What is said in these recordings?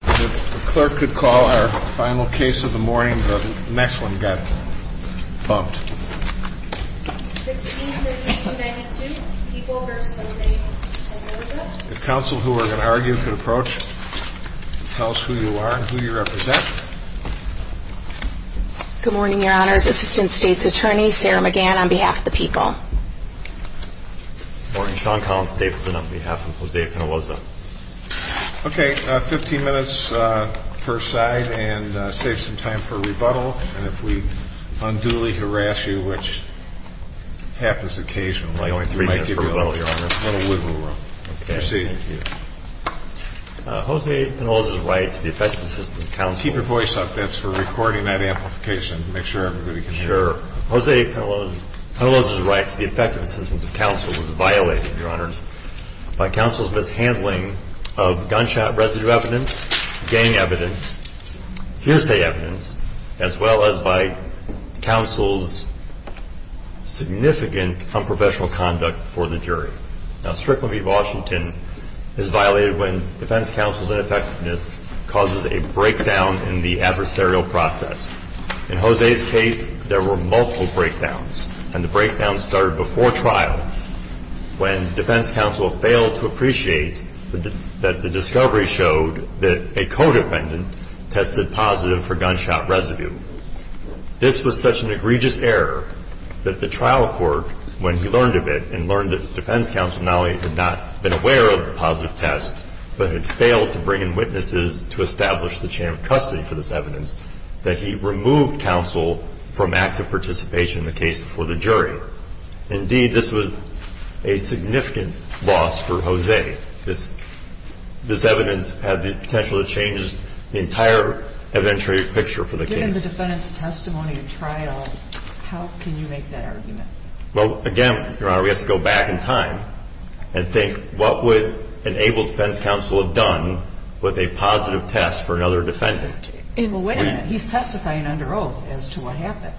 The clerk could call our final case of the morning, but the next one got bumped. 1632-92, People v. Jose Penaloza. If counsel who are going to argue could approach and tell us who you are and who you represent. Good morning, Your Honors. Assistant State's Attorney Sarah McGann on behalf of the People. Good morning. Sean Collins-Stapleton on behalf of Jose Penaloza. Okay, 15 minutes per side and save some time for rebuttal. And if we unduly harass you, which happens occasionally, we might give you a little wiggle room. Proceed. Jose Penaloza's right to the effective assistance of counsel. Keep your voice up. That's for recording that amplification. Make sure everybody can hear. Sure. Jose Penaloza's right to the effective assistance of counsel was violated, Your Honors, by counsel's mishandling of gunshot residue evidence, gang evidence, hearsay evidence, as well as by counsel's significant unprofessional conduct for the jury. Now, Strickland v. Washington is violated when defense counsel's ineffectiveness causes a breakdown in the adversarial process. In Jose's case, there were multiple breakdowns. And the breakdown started before trial when defense counsel failed to appreciate that the discovery showed that a co-defendant tested positive for gunshot residue. This was such an egregious error that the trial court, when he learned of it and learned that defense counsel not only had not been aware of the positive test, but had failed to bring in witnesses to establish the chain of custody for this evidence, that he removed counsel from active participation in the case before the jury. Indeed, this was a significant loss for Jose. This evidence had the potential to change the entire evidentiary picture for the case. Given the defendant's testimony at trial, how can you make that argument? Well, again, Your Honor, we have to go back in time and think what would an able defense counsel have done with a positive test for another defendant? Well, wait a minute. He's testifying under oath as to what happened.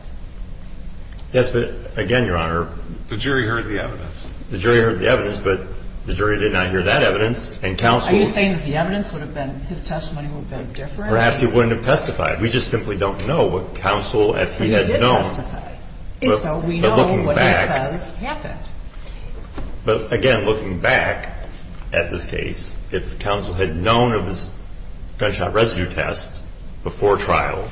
Yes, but again, Your Honor. The jury heard the evidence. The jury heard the evidence, but the jury did not hear that evidence, and counsel Are you saying that the evidence would have been, his testimony would have been different? Perhaps he wouldn't have testified. We just simply don't know what counsel, if he had known He did testify. So we know what he says happened. But again, looking back at this case, if counsel had known of this gunshot residue test, before trial,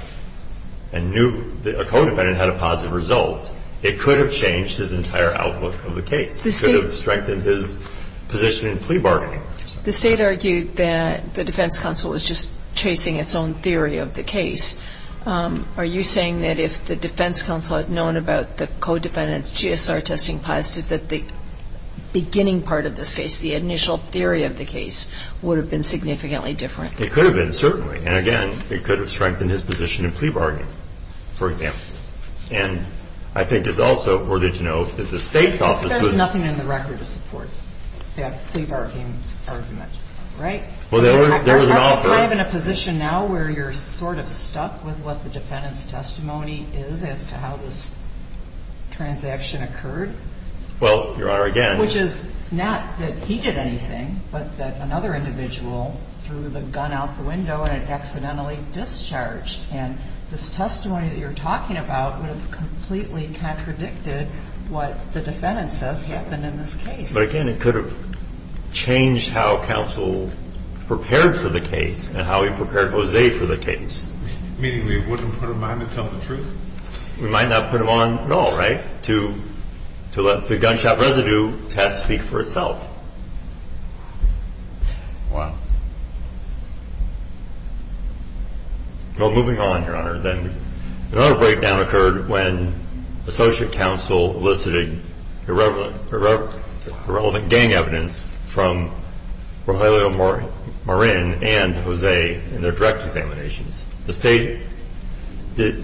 and knew that a co-defendant had a positive result, it could have changed his entire outlook of the case. It could have strengthened his position in plea bargaining. The State argued that the defense counsel was just chasing its own theory of the case. Are you saying that if the defense counsel had known about the co-defendant's GSR testing positive, that the beginning part of this case, the initial theory of the case, would have been significantly different? It could have been, certainly. And again, it could have strengthened his position in plea bargaining, for example. And I think it's also important to note that the State office was There's nothing in the record to support that plea bargaining argument. Right? Well, there was an offer Aren't we kind of in a position now where you're sort of stuck with what the defendant's testimony is as to how this transaction occurred? Well, Your Honor, again Which is not that he did anything, but that another individual threw the gun out the window and it accidentally discharged. And this testimony that you're talking about would have completely contradicted what the defendant says happened in this case. But again, it could have changed how counsel prepared for the case and how he prepared Jose for the case. Meaning we wouldn't put him on to tell the truth? We might not put him on at all, right? To let the gunshot residue test speak for itself. Wow. Well, moving on, Your Honor, then. Another breakdown occurred when associate counsel elicited irrelevant gang evidence from Rogelio Marin and Jose in their direct examinations. The State,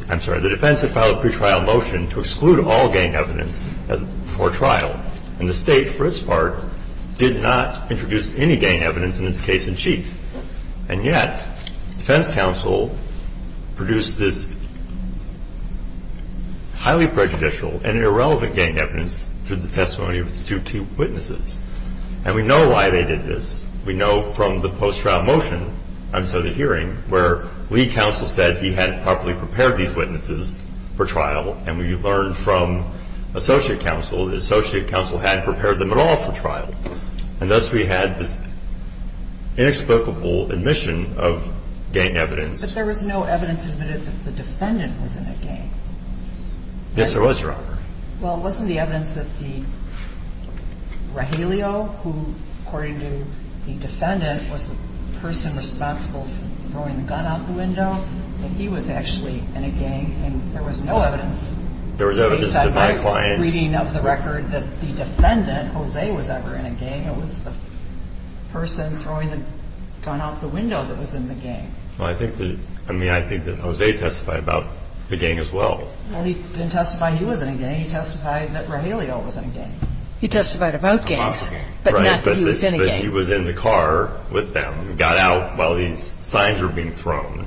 I'm sorry, the defense had filed a pre-trial motion to exclude all gang evidence for trial. And the State, for its part, did not introduce any gang evidence in its case in chief. And yet, defense counsel produced this highly prejudicial and irrelevant gang evidence through the testimony of its two witnesses. And we know why they did this. We know from the post-trial motion, and so the hearing, where lead counsel said he had properly prepared these witnesses for trial and we learned from associate counsel that associate counsel had prepared them at all for trial. And thus we had this inexplicable admission of gang evidence. But there was no evidence admitted that the defendant was in a gang. Yes, there was, Your Honor. Well, wasn't the evidence that the Rogelio, who, according to the defendant, was the person responsible for throwing the gun out the window, that he was actually in a gang and there was no evidence. There was evidence to my client. Based on my reading of the record that the defendant, Jose, was ever in a gang. It was the person throwing the gun out the window that was in the gang. Well, I think that Jose testified about the gang as well. Well, he didn't testify he was in a gang. He testified that Rogelio was in a gang. He testified about gangs, but not that he was in a gang. Right, but he was in the car with them and got out while these signs were being thrown.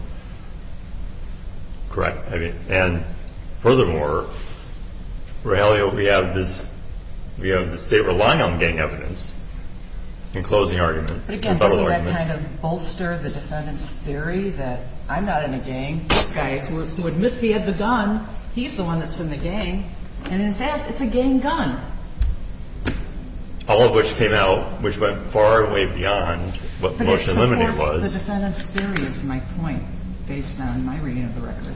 Correct. And furthermore, Rogelio, we have this state relying on gang evidence. In closing argument. But again, doesn't that kind of bolster the defendant's theory that I'm not in a gang? This guy who admits he had the gun, he's the one that's in the gang. And in fact, it's a gang gun. All of which came out, which went far way beyond what the motion to eliminate was. So the defendant's theory is my point based on my reading of the record.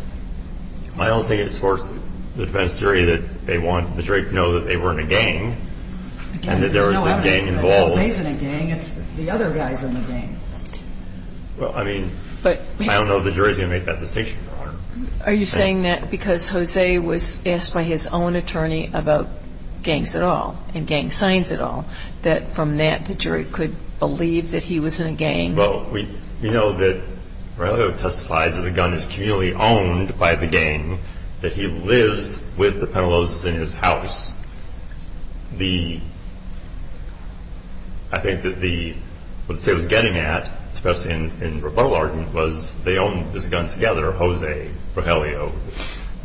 I don't think it supports the defendant's theory that they want the jury to know that they were in a gang. And that there was a gang involved. It's not that Jose's in a gang, it's the other guy's in the gang. Well, I mean, I don't know if the jury's going to make that distinction, Your Honor. Are you saying that because Jose was asked by his own attorney about gangs at all, and gang signs at all, that from that the jury could believe that he was in a gang? Well, we know that Rogelio testifies that the gun is communally owned by the gang. That he lives with the Penalosas in his house. The, I think that the, what the state was getting at, especially in rebuttal argument, was they owned this gun together, Jose, Rogelio,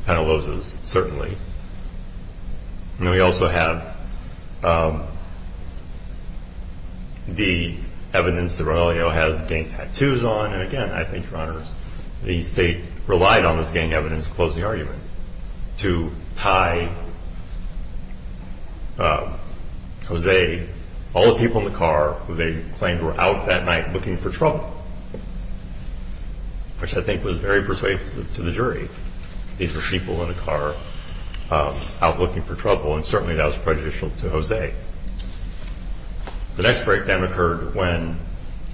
Penalosas, certainly. And then we also have the evidence that Rogelio has gang tattoos on. And again, I think, Your Honor, the state relied on this gang evidence to close the argument to tie Jose, all the people in the car who they claimed were out that night looking for trouble, which I think was very persuasive to the jury. These were people in a car out looking for trouble, and certainly that was prejudicial to Jose. The next breakdown occurred when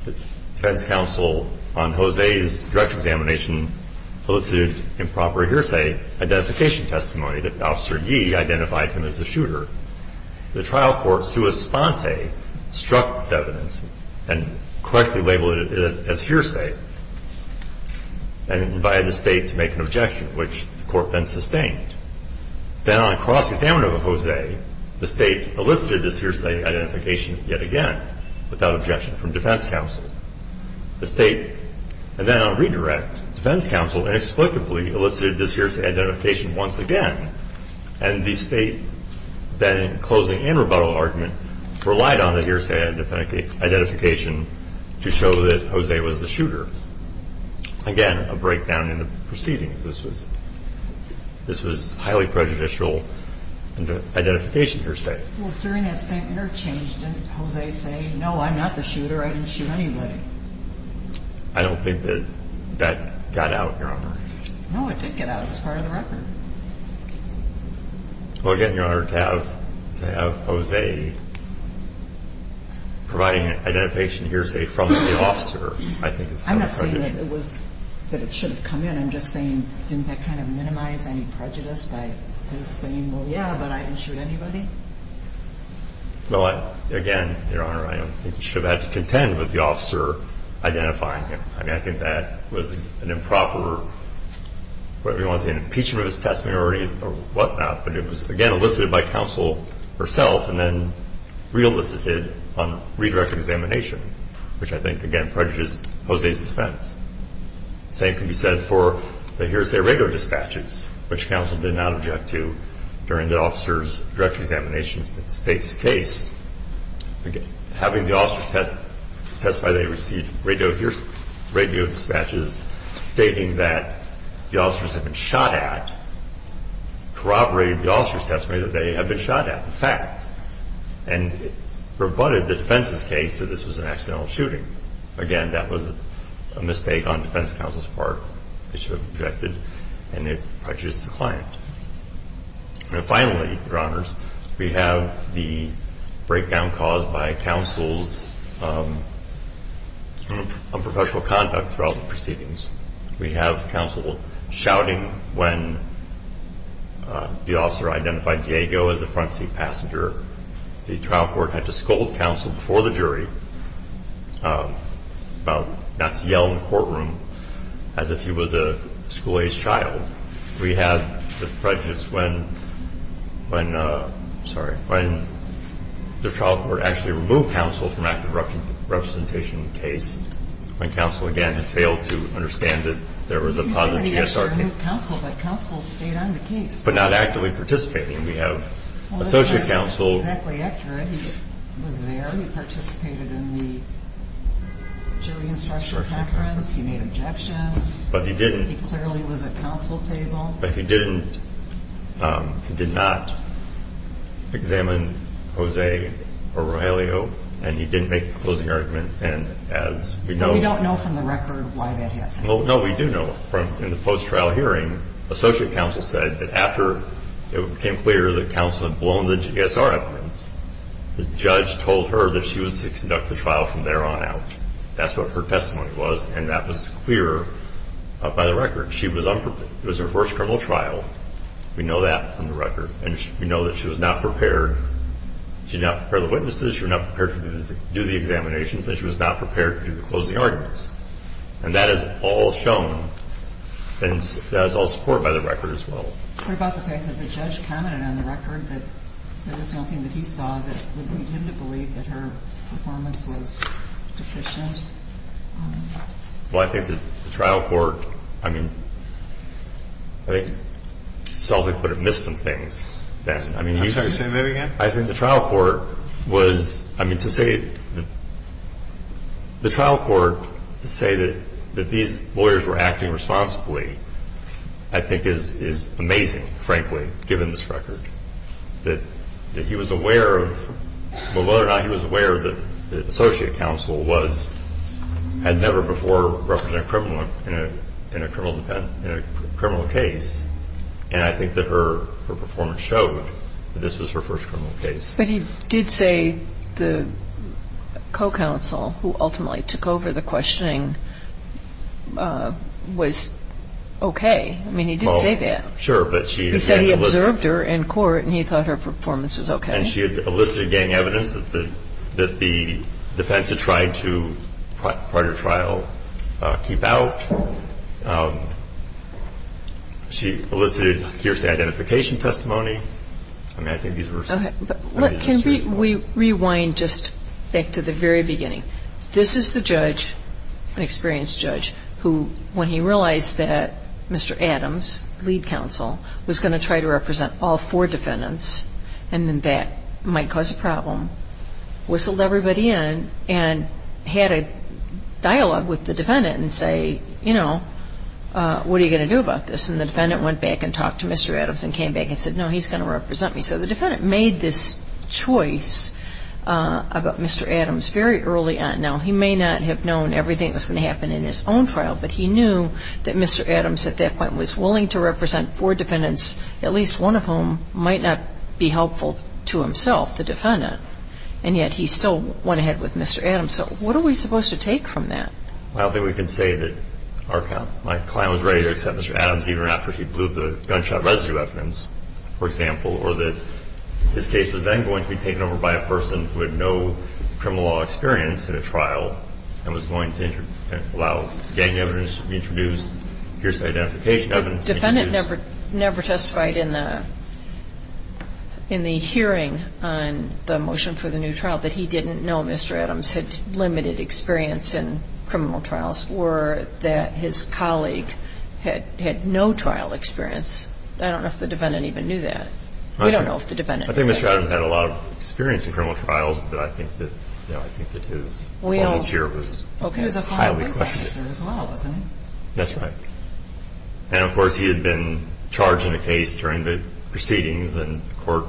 the defense counsel on Jose's direct examination elicited improper hearsay identification testimony that Officer Yee identified him as the shooter. The trial court, sua sponte, struck this evidence and correctly labeled it as hearsay and invited the state to make an objection, which the court then sustained. Then on cross-examination of Jose, the state elicited this hearsay identification yet again without objection from defense counsel. The state, and then on redirect, defense counsel inexplicably elicited this hearsay identification once again. And the state, then in closing and rebuttal argument, relied on the hearsay identification to show that Jose was the shooter. Again, a breakdown in the proceedings. This was highly prejudicial identification hearsay. Well, during that same interchange, didn't Jose say, no, I'm not the shooter, I didn't shoot anybody? I don't think that that got out, Your Honor. No, it did get out. It was part of the record. Well, again, Your Honor, to have Jose providing an identification hearsay from the officer, I think is highly prejudicial. I'm not saying that it should have come in. I'm just saying didn't that kind of minimize any prejudice by his saying, well, yeah, but I didn't shoot anybody? Well, again, Your Honor, I don't think you should have had to contend with the officer identifying him. I mean, I think that was an improper, what everyone was saying, impeachment of his testimony or whatnot. But it was, again, elicited by counsel herself and then re-elicited on redirect examination, which I think, again, prejudices Jose's defense. The same can be said for the hearsay radio dispatches, which counsel did not object to during the officer's direct examination of the state's case. Having the officer testify, they received radio dispatches stating that the officers had been shot at, corroborated the officer's testimony that they had been shot at, in fact, and rebutted the defense's case that this was an accidental shooting. Again, that was a mistake on defense counsel's part. They should have objected, and it prejudiced the client. And finally, Your Honors, we have the breakdown caused by counsel's unprofessional conduct throughout the proceedings. We have counsel shouting when the officer identified Diego as the front seat passenger. The trial court had to scold counsel before the jury about not to yell in the courtroom as if he was a school-aged child. We have the prejudice when the trial court actually removed counsel from active representation in the case when counsel, again, had failed to understand that there was a positive GSR case. You said that you actually removed counsel, but counsel stayed on the case. But not actively participating. We have associate counsel. Well, that's not exactly accurate. He was there. He participated in the jury instruction conference. He made objections. But he didn't. He clearly was at counsel table. But he didn't. He did not examine Jose or Rogelio, and he didn't make a closing argument. And as we know. We don't know from the record why that happened. No, we do know. In the post-trial hearing, associate counsel said that after it became clear that counsel had blown the GSR evidence, the judge told her that she was to conduct the trial from there on out. That's what her testimony was, and that was clear by the record. She was unprepared. It was her first criminal trial. We know that from the record. And we know that she was not prepared. She did not prepare the witnesses. She was not prepared to do the examinations. And she was not prepared to close the arguments. And that is all shown. And that is all supported by the record as well. What about the fact that the judge commented on the record that there was something that he saw that would lead him to believe that her performance was deficient? Well, I think that the trial court, I mean, I think Sullivan could have missed some things. I'm sorry, say that again? I think the trial court was, I mean, to say that these lawyers were acting responsibly, I think is amazing, frankly, given this record. That he was aware of, well, whether or not he was aware that the associate counsel was, had never before represented a criminal in a criminal case. And I think that her performance showed that this was her first criminal case. But he did say the co-counsel, who ultimately took over the questioning, was okay. I mean, he did say that. Sure. He said he observed her in court and he thought her performance was okay. And she had elicited gang evidence that the defense had tried to, prior to trial, keep out. She elicited hearsay identification testimony. I mean, I think these were serious moments. Can we rewind just back to the very beginning? This is the judge, an experienced judge, who, when he realized that Mr. Adams, lead counsel, was going to try to represent all four defendants and that might cause a problem, whistled everybody in and had a dialogue with the defendant and say, you know, what are you going to do about this? And the defendant went back and talked to Mr. Adams and came back and said, no, he's going to represent me. So the defendant made this choice about Mr. Adams very early on. Now, he may not have known everything that was going to happen in his own trial, but he knew that Mr. Adams, at that point, was willing to represent four defendants, at least one of whom might not be helpful to himself, the defendant. And yet he still went ahead with Mr. Adams. So what are we supposed to take from that? Well, I think we can say that my client was ready to accept Mr. Adams, even after he blew the gunshot residue evidence, for example, or that this case was then going to be taken over by a person who had no criminal law experience in a trial and was going to allow gang evidence to be introduced. Here's the identification evidence. The defendant never testified in the hearing on the motion for the new trial that he didn't know Mr. Adams had limited experience in criminal trials or that his colleague had no trial experience. I don't know if the defendant even knew that. We don't know if the defendant knew that. I think Mr. Adams had a lot of experience in criminal trials, but I think that his qualms here was highly questioned. Okay. He was a final defense officer as well, wasn't he? That's right. And, of course, he had been charged in a case during the proceedings and the court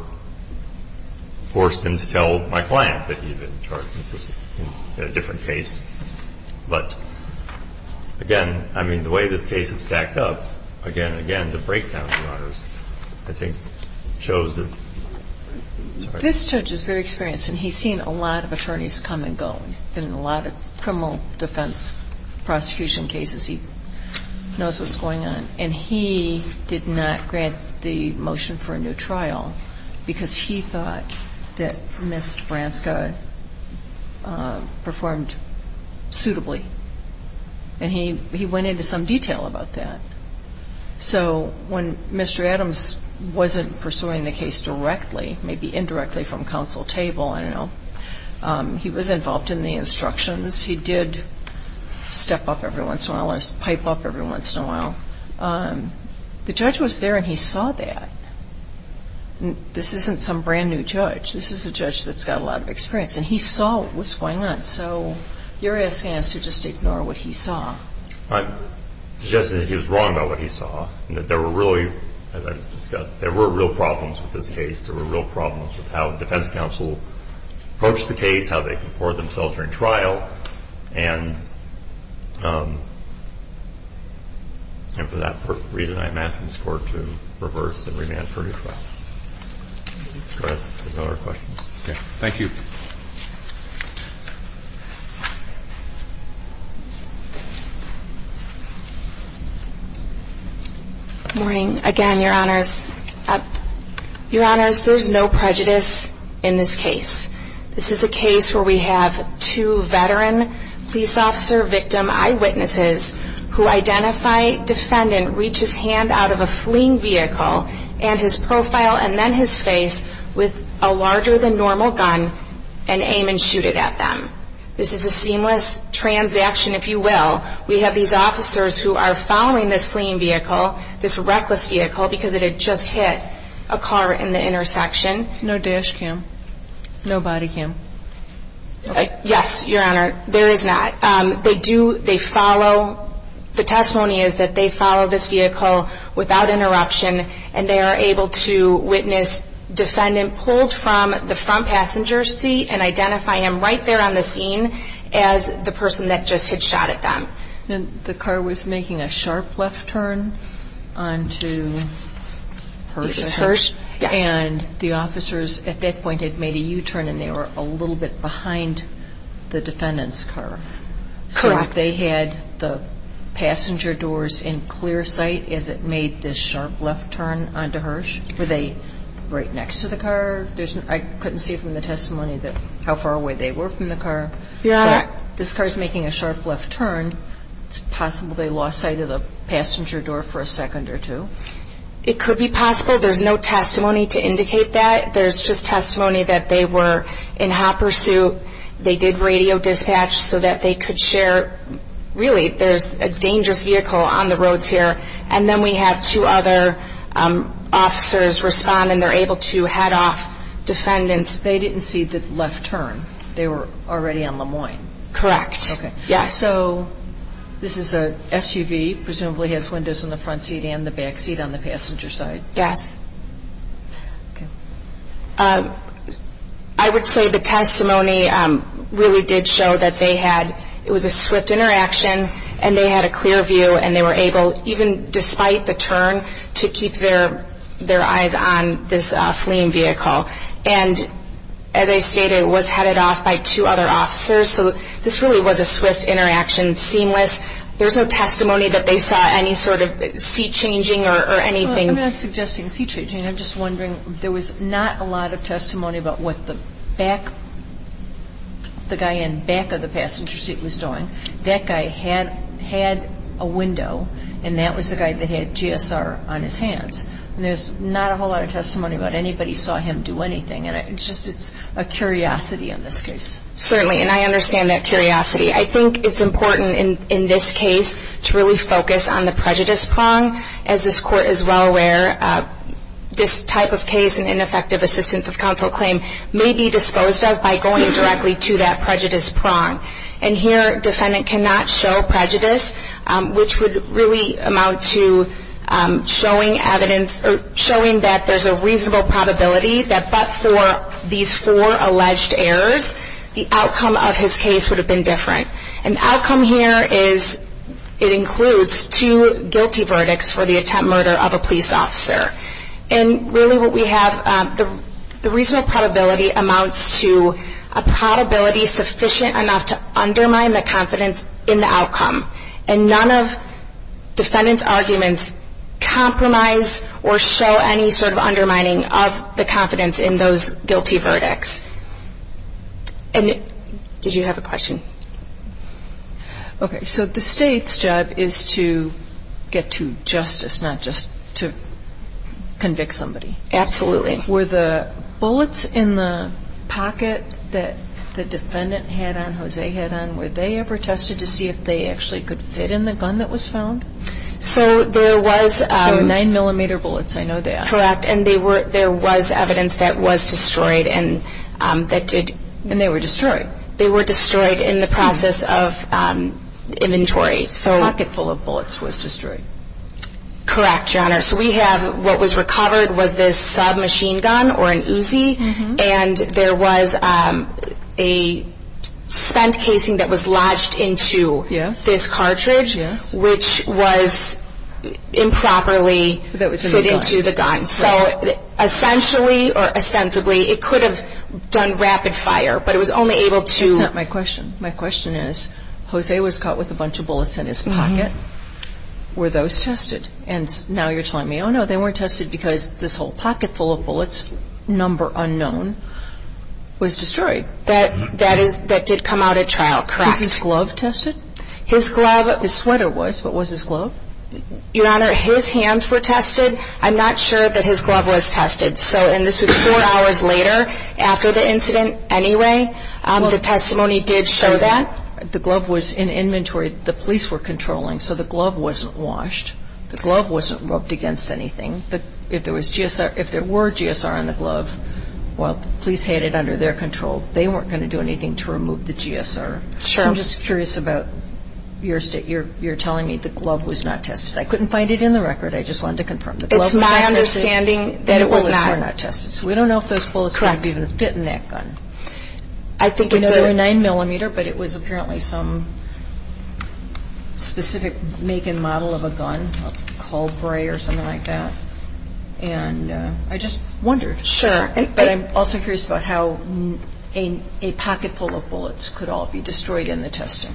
forced him to tell my client that he had been charged in a different case. But, again, I mean, the way this case had stacked up, again and again, the breakdown, Your Honors, I think shows that. This judge is very experienced, and he's seen a lot of attorneys come and go. He's been in a lot of criminal defense prosecution cases. He knows what's going on. And he did not grant the motion for a new trial because he thought that Ms. Branska performed suitably. And he went into some detail about that. So when Mr. Adams wasn't pursuing the case directly, maybe indirectly from counsel table, I don't know, he was involved in the instructions. He did step up every once in a while and pipe up every once in a while. The judge was there, and he saw that. This isn't some brand-new judge. This is a judge that's got a lot of experience, and he saw what was going on. So you're asking us to just ignore what he saw. I'm suggesting that he was wrong about what he saw, and that there were really, as I've discussed, there were real problems with this case. There were real problems with how the defense counsel approached the case, how they comported themselves during trial. And for that reason, I'm asking this Court to reverse and remand for a new trial. That's all our questions. Thank you. Good morning. Again, Your Honors, there's no prejudice in this case. This is a case where we have two veteran police officer victim eyewitnesses who identify defendant reaches hand out of a fleeing vehicle and his profile and then his face with a larger than normal gun and aim and shoot it at them. This is a seamless transaction, if you will. We have these officers who are following this fleeing vehicle, this reckless vehicle, because it had just hit a car in the intersection. No dash cam. No body cam. Yes, Your Honor, there is not. They do, they follow, the testimony is that they follow this vehicle without interruption and they are able to witness defendant pulled from the front passenger seat and identify him right there on the scene as the person that just hit shot at them. And the car was making a sharp left turn on to hers. It was hers, yes. And the officers at that point had made a U-turn and they were a little bit behind the defendant's car. Correct. So they had the passenger doors in clear sight as it made this sharp left turn on to hers. Were they right next to the car? I couldn't see from the testimony how far away they were from the car. Your Honor. This car is making a sharp left turn. It's possible they lost sight of the passenger door for a second or two. It could be possible. There's no testimony to indicate that. There's just testimony that they were in hopper suit. They did radio dispatch so that they could share. Really, there's a dangerous vehicle on the roads here. And then we have two other officers respond and they're able to head off defendants. They didn't see the left turn. They were already on Lemoyne. Correct. Yes. So this is a SUV, presumably has windows in the front seat and the back seat on the passenger side. Yes. I would say the testimony really did show that it was a swift interaction and they had a clear view and they were able, even despite the turn, to keep their eyes on this fleeing vehicle. And as I stated, it was headed off by two other officers, so this really was a swift interaction, seamless. There's no testimony that they saw any sort of seat changing or anything. I'm not suggesting seat changing. I'm just wondering, there was not a lot of testimony about what the back, the guy in back of the passenger seat was doing. That guy had a window and that was the guy that had GSR on his hands. And there's not a whole lot of testimony about anybody saw him do anything. It's just a curiosity in this case. Certainly, and I understand that curiosity. I think it's important in this case to really focus on the prejudice prong, as this court is well aware, this type of case and ineffective assistance of counsel claim may be disposed of by going directly to that prejudice prong. And here, defendant cannot show prejudice, which would really amount to showing evidence, showing that there's a reasonable probability that but for these four alleged errors, the outcome of his case would have been different. And the outcome here is it includes two guilty verdicts for the attempt murder of a police officer. And really what we have, the reasonable probability amounts to a probability sufficient enough to undermine the confidence in the outcome. And none of defendant's arguments compromise or show any sort of undermining of the confidence in those guilty verdicts. And did you have a question? Okay, so the state's job is to get to justice, not just to convict somebody. Absolutely. Were the bullets in the pocket that the defendant had on, Jose had on, were they ever tested to see if they actually could fit in the gun that was found? So there was... Nine millimeter bullets, I know that. Correct, and there was evidence that was destroyed. And they were destroyed. They were destroyed in the process of inventory. A pocket full of bullets was destroyed. Correct, Your Honor. So we have what was recovered was this submachine gun or an Uzi, and there was a spent casing that was lodged into this cartridge, which was improperly put into the gun. So essentially or ostensibly it could have done rapid fire, but it was only able to... That's not my question. My question is, Jose was caught with a bunch of bullets in his pocket. Were those tested? And now you're telling me, oh, no, they weren't tested because this whole pocket full of bullets, number unknown, was destroyed. That did come out at trial. Correct. Was his glove tested? His glove... His sweater was, but was his glove? Your Honor, his hands were tested. I'm not sure that his glove was tested, and this was four hours later after the incident anyway. The testimony did show that. The glove was in inventory. The police were controlling, so the glove wasn't washed. The glove wasn't rubbed against anything. If there were GSR on the glove, well, the police had it under their control. They weren't going to do anything to remove the GSR. I'm just curious about your state. You're telling me the glove was not tested. I couldn't find it in the record. I just wanted to confirm the glove was not tested. It's my understanding that it was not. So we don't know if those bullets might even have fit in that gun. I think it was a 9-millimeter, but it was apparently some specific make and model of a gun, a Colbray or something like that. And I just wondered. Sure. But I'm also curious about how a pocket full of bullets could all be destroyed in the testing.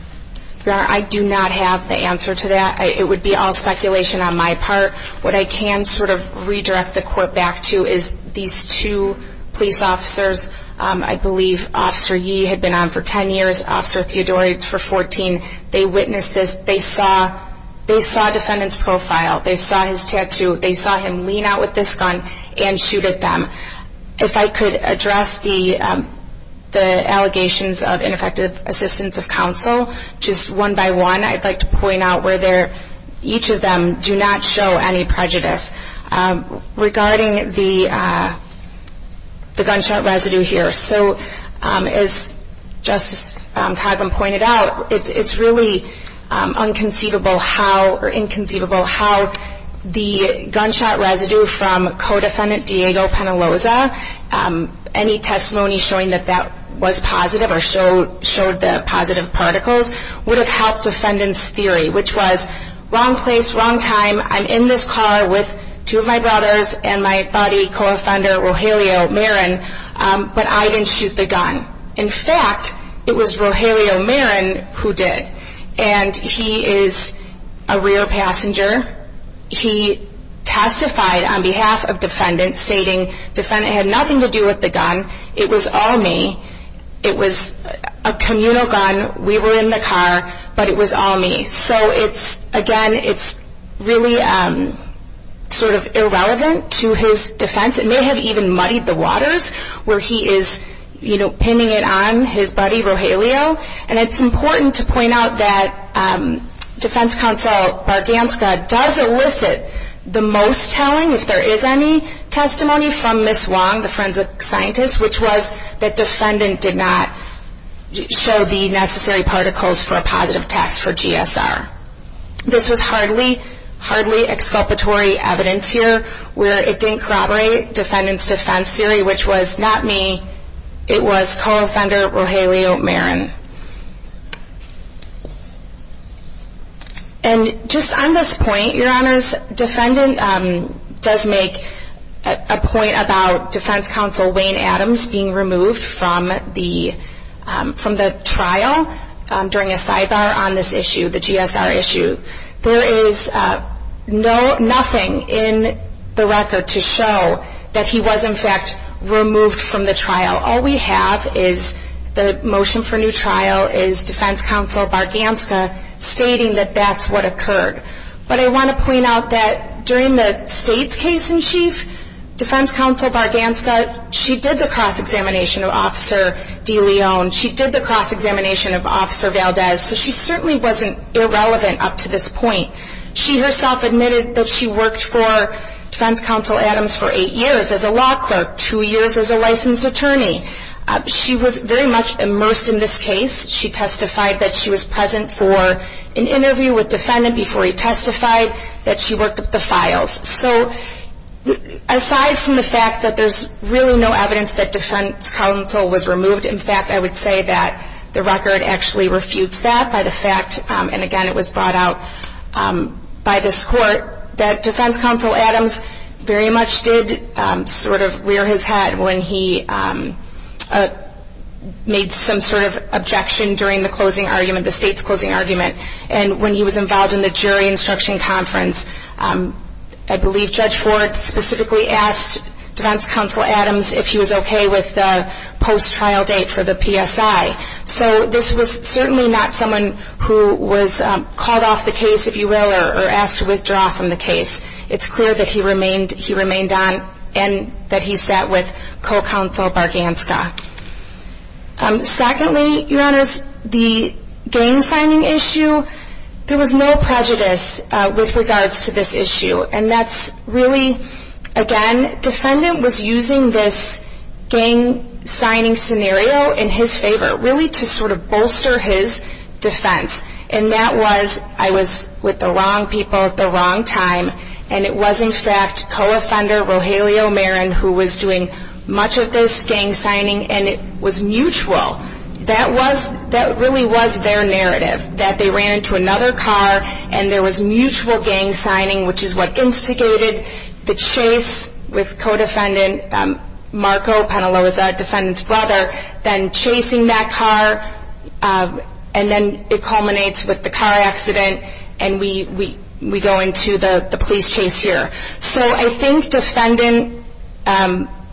Your Honor, I do not have the answer to that. It would be all speculation on my part. What I can sort of redirect the Court back to is these two police officers, I believe Officer Yee had been on for 10 years, Officer Theodore, he's for 14. They witnessed this. They saw a defendant's profile. They saw his tattoo. They saw him lean out with this gun and shoot at them. If I could address the allegations of ineffective assistance of counsel, just one by one, I'd like to point out where each of them do not show any prejudice. Regarding the gunshot residue here, so as Justice Coghlan pointed out, it's really inconceivable how the gunshot residue from co-defendant Diego Penaloza, any testimony showing that that was positive or showed the positive particles, would have helped defendant's theory, which was wrong place, wrong time. I'm in this car with two of my brothers and my buddy, co-offender Rogelio Marin, but I didn't shoot the gun. In fact, it was Rogelio Marin who did, and he is a rear passenger. He testified on behalf of defendant, stating defendant had nothing to do with the gun. It was all me. It was a communal gun. We were in the car, but it was all me. So, again, it's really sort of irrelevant to his defense. It may have even muddied the waters where he is pinning it on his buddy, Rogelio. And it's important to point out that Defense Counsel Barganska does elicit the most telling, if there is any testimony, from Ms. Wong, the forensic scientist, which was that defendant did not show the necessary particles for a positive test for GSR. This was hardly, hardly exculpatory evidence here, where it didn't corroborate defendant's defense theory, which was not me. It was co-offender Rogelio Marin. And just on this point, Your Honors, defendant does make a point about Defense Counsel Wayne Adams being removed from the trial during a sidebar on this issue, the GSR issue. There is nothing in the record to show that he was, in fact, removed from the trial. All we have is the motion for new trial is Defense Counsel Barganska stating that that's what occurred. But I want to point out that during the State's case in chief, Defense Counsel Barganska, she did the cross-examination of Officer DeLeon. She did the cross-examination of Officer Valdez. So she certainly wasn't irrelevant up to this point. She herself admitted that she worked for Defense Counsel Adams for eight years as a law clerk, two years as a licensed attorney. She was very much immersed in this case. She testified that she was present for an interview with defendant before he testified, that she worked up the files. So aside from the fact that there's really no evidence that Defense Counsel was removed, in fact, I would say that the record actually refutes that by the fact, and again it was brought out by this court, that Defense Counsel Adams very much did sort of rear his head when he made some sort of objection during the closing argument, the State's closing argument, and when he was involved in the jury instruction conference. I believe Judge Ford specifically asked Defense Counsel Adams if he was okay with the post-trial date for the PSI. So this was certainly not someone who was called off the case, if you will, or asked to withdraw from the case. It's clear that he remained on and that he sat with Co-Counsel Barganska. Secondly, Your Honors, the gang signing issue, there was no prejudice with regards to this issue. And that's really, again, defendant was using this gang signing scenario in his favor, really to sort of bolster his defense. And that was, I was with the wrong people at the wrong time, and it was in fact co-offender Rogelio Marin who was doing much of this gang signing, and it was mutual. That was, that really was their narrative, that they ran into another car, and there was mutual gang signing, which is what instigated the chase with co-defendant Marco Penaloza, defendant's brother, then chasing that car, and then it culminates with the car accident, and we go into the police chase here. So I think defendant,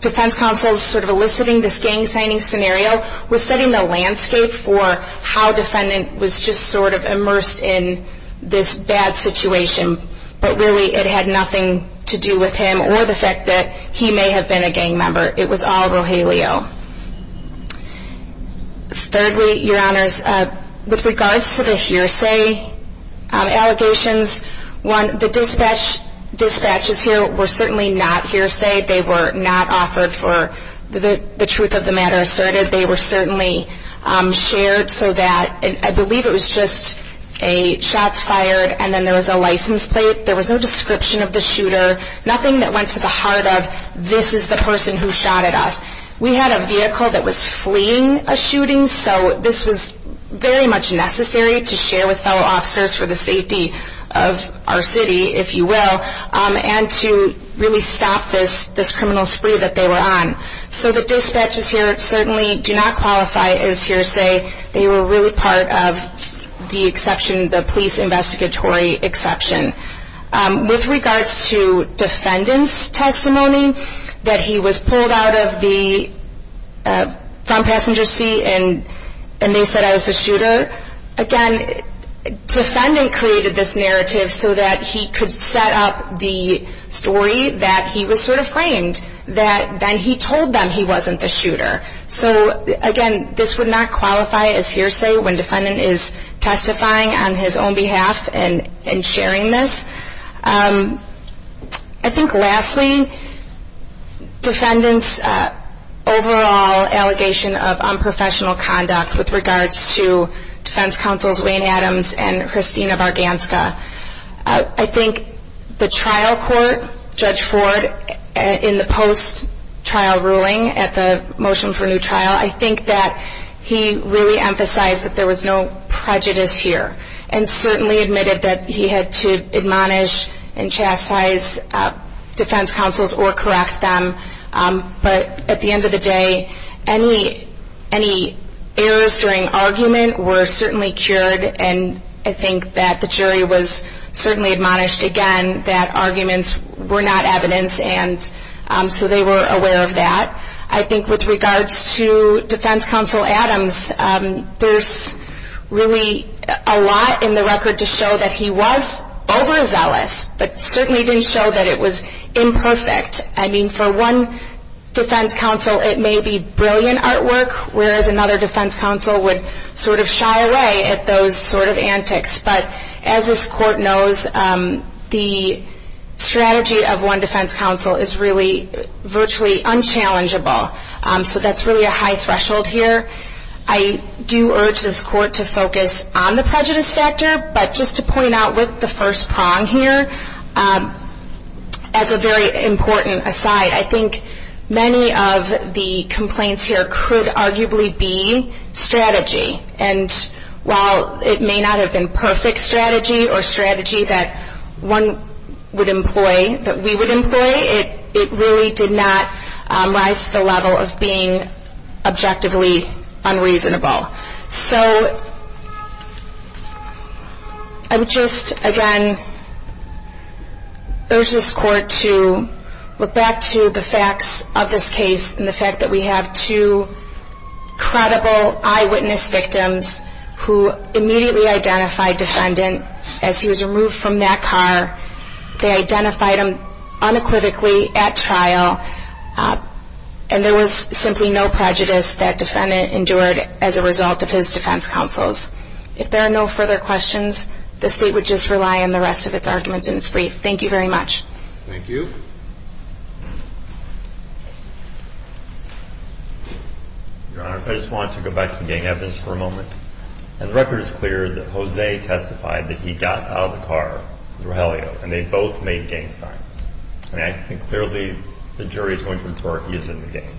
defense counsel's sort of eliciting this gang signing scenario was setting the landscape for how defendant was just sort of immersed in this bad situation, but really it had nothing to do with him or the fact that he may have been a gang member. It was all Rogelio. Thirdly, your honors, with regards to the hearsay allegations, one, the dispatches here were certainly not hearsay. They were not offered for the truth of the matter asserted. They were certainly shared so that, I believe it was just a shots fired, and then there was a license plate. There was no description of the shooter, nothing that went to the heart of this is the person who shot at us. We had a vehicle that was fleeing a shooting, so this was very much necessary to share with fellow officers for the safety of our city, if you will, and to really stop this criminal spree that they were on. So the dispatches here certainly do not qualify as hearsay. They were really part of the police investigatory exception. With regards to defendant's testimony that he was pulled out of the front passenger seat and they said I was the shooter, again, defendant created this narrative so that he could set up the story that he was sort of framed, that then he told them he wasn't the shooter. So again, this would not qualify as hearsay when defendant is testifying on his own behalf and sharing this. I think lastly, defendant's overall allegation of unprofessional conduct with regards to defense counsels Wayne Adams and Christina Varganska. I think the trial court, Judge Ford, in the post-trial ruling at the motion for new trial, I think that he really emphasized that there was no prejudice here and certainly admitted that he had to admonish and chastise defense counsels or correct them. But at the end of the day, any errors during argument were certainly cured and I think that the jury was certainly admonished again that arguments were not evidence and so they were aware of that. I think with regards to defense counsel Adams, there's really a lot in the record to show that he was overzealous but certainly didn't show that it was imperfect. I mean, for one defense counsel it may be brilliant artwork whereas another defense counsel would sort of shy away at those sort of antics. But as this court knows, the strategy of one defense counsel is really virtually unchallengeable. So that's really a high threshold here. I do urge this court to focus on the prejudice factor but just to point out with the first prong here, as a very important aside, I think many of the complaints here could arguably be strategy. And while it may not have been perfect strategy or strategy that one would employ, that we would employ, it really did not rise to the level of being objectively unreasonable. So I would just, again, urge this court to look back to the facts of this case and the fact that we have two credible eyewitness victims who immediately identified defendant as he was removed from that car. They identified him unequivocally at trial and there was simply no prejudice that defendant endured as a result of his defense counsels. If there are no further questions, the state would just rely on the rest of its arguments in its brief. Thank you very much. Thank you. Your Honor, I just want to go back to the gang evidence for a moment. And the record is clear that Jose testified that he got out of the car with Rogelio and they both made gang signs. And I think clearly the jury is going to infer he is in the gang.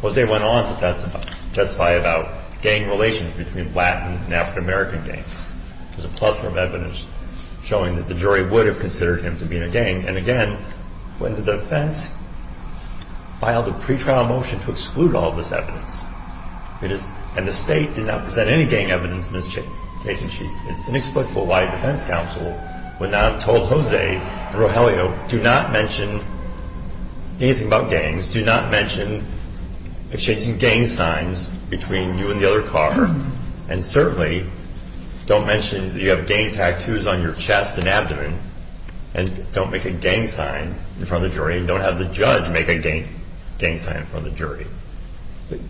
Jose went on to testify about gang relations between Latin and African American gangs. There's a plethora of evidence showing that the jury would have considered him to be in a gang. And again, when the defense filed a pretrial motion to exclude all of this evidence, and the state did not present any gang evidence in this case in chief, it's inexplicable why defense counsel would not have told Jose and Rogelio, do not mention anything about gangs, do not mention exchanging gang signs between you and the other car, and certainly don't mention that you have gang tattoos on your chest and abdomen and don't make a gang sign in front of the jury and don't have the judge make a gang sign in front of the jury. The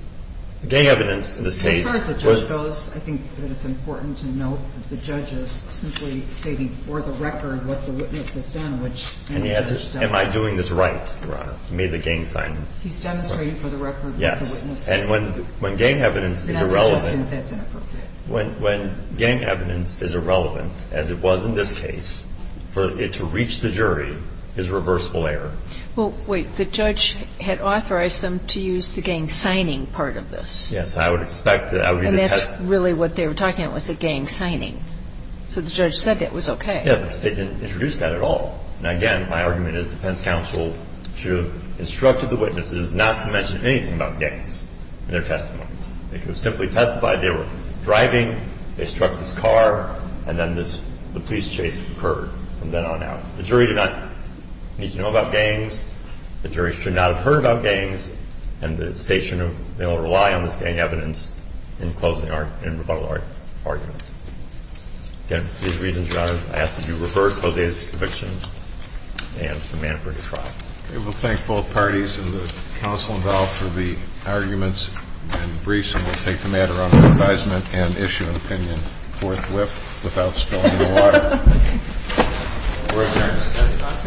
gang evidence in this case was... As far as the judge goes, I think that it's important to note that the judge is simply stating for the record what the witness has done, which any judge does. And he asks, am I doing this right, Your Honor, to make a gang sign? He's demonstrating for the record what the witness has done. And when gang evidence is irrelevant... And I suggest that that's inappropriate. When gang evidence is irrelevant, as it was in this case, for it to reach the jury is reversible error. Well, wait. The judge had authorized them to use the gang signing part of this. Yes. I would expect that. And that's really what they were talking about was the gang signing. So the judge said that was okay. Yes. They didn't introduce that at all. Now, again, my argument is defense counsel should have instructed the witnesses not to mention anything about gangs in their testimonies. They could have simply testified they were driving, they struck this car, and then the police chase occurred from then on out. The jury did not need to know about gangs. The jury should not have heard about gangs. And the state should have been able to rely on this gang evidence in closing our... in rebuttal our argument. Again, for these reasons, Your Honor, I ask that you reverse Jose's conviction and demand a free trial. Okay. We'll thank both parties and the counsel involved for the arguments and briefs, and we'll take the matter under advisement and issue an opinion forthwith without spilling the water. We're adjourned.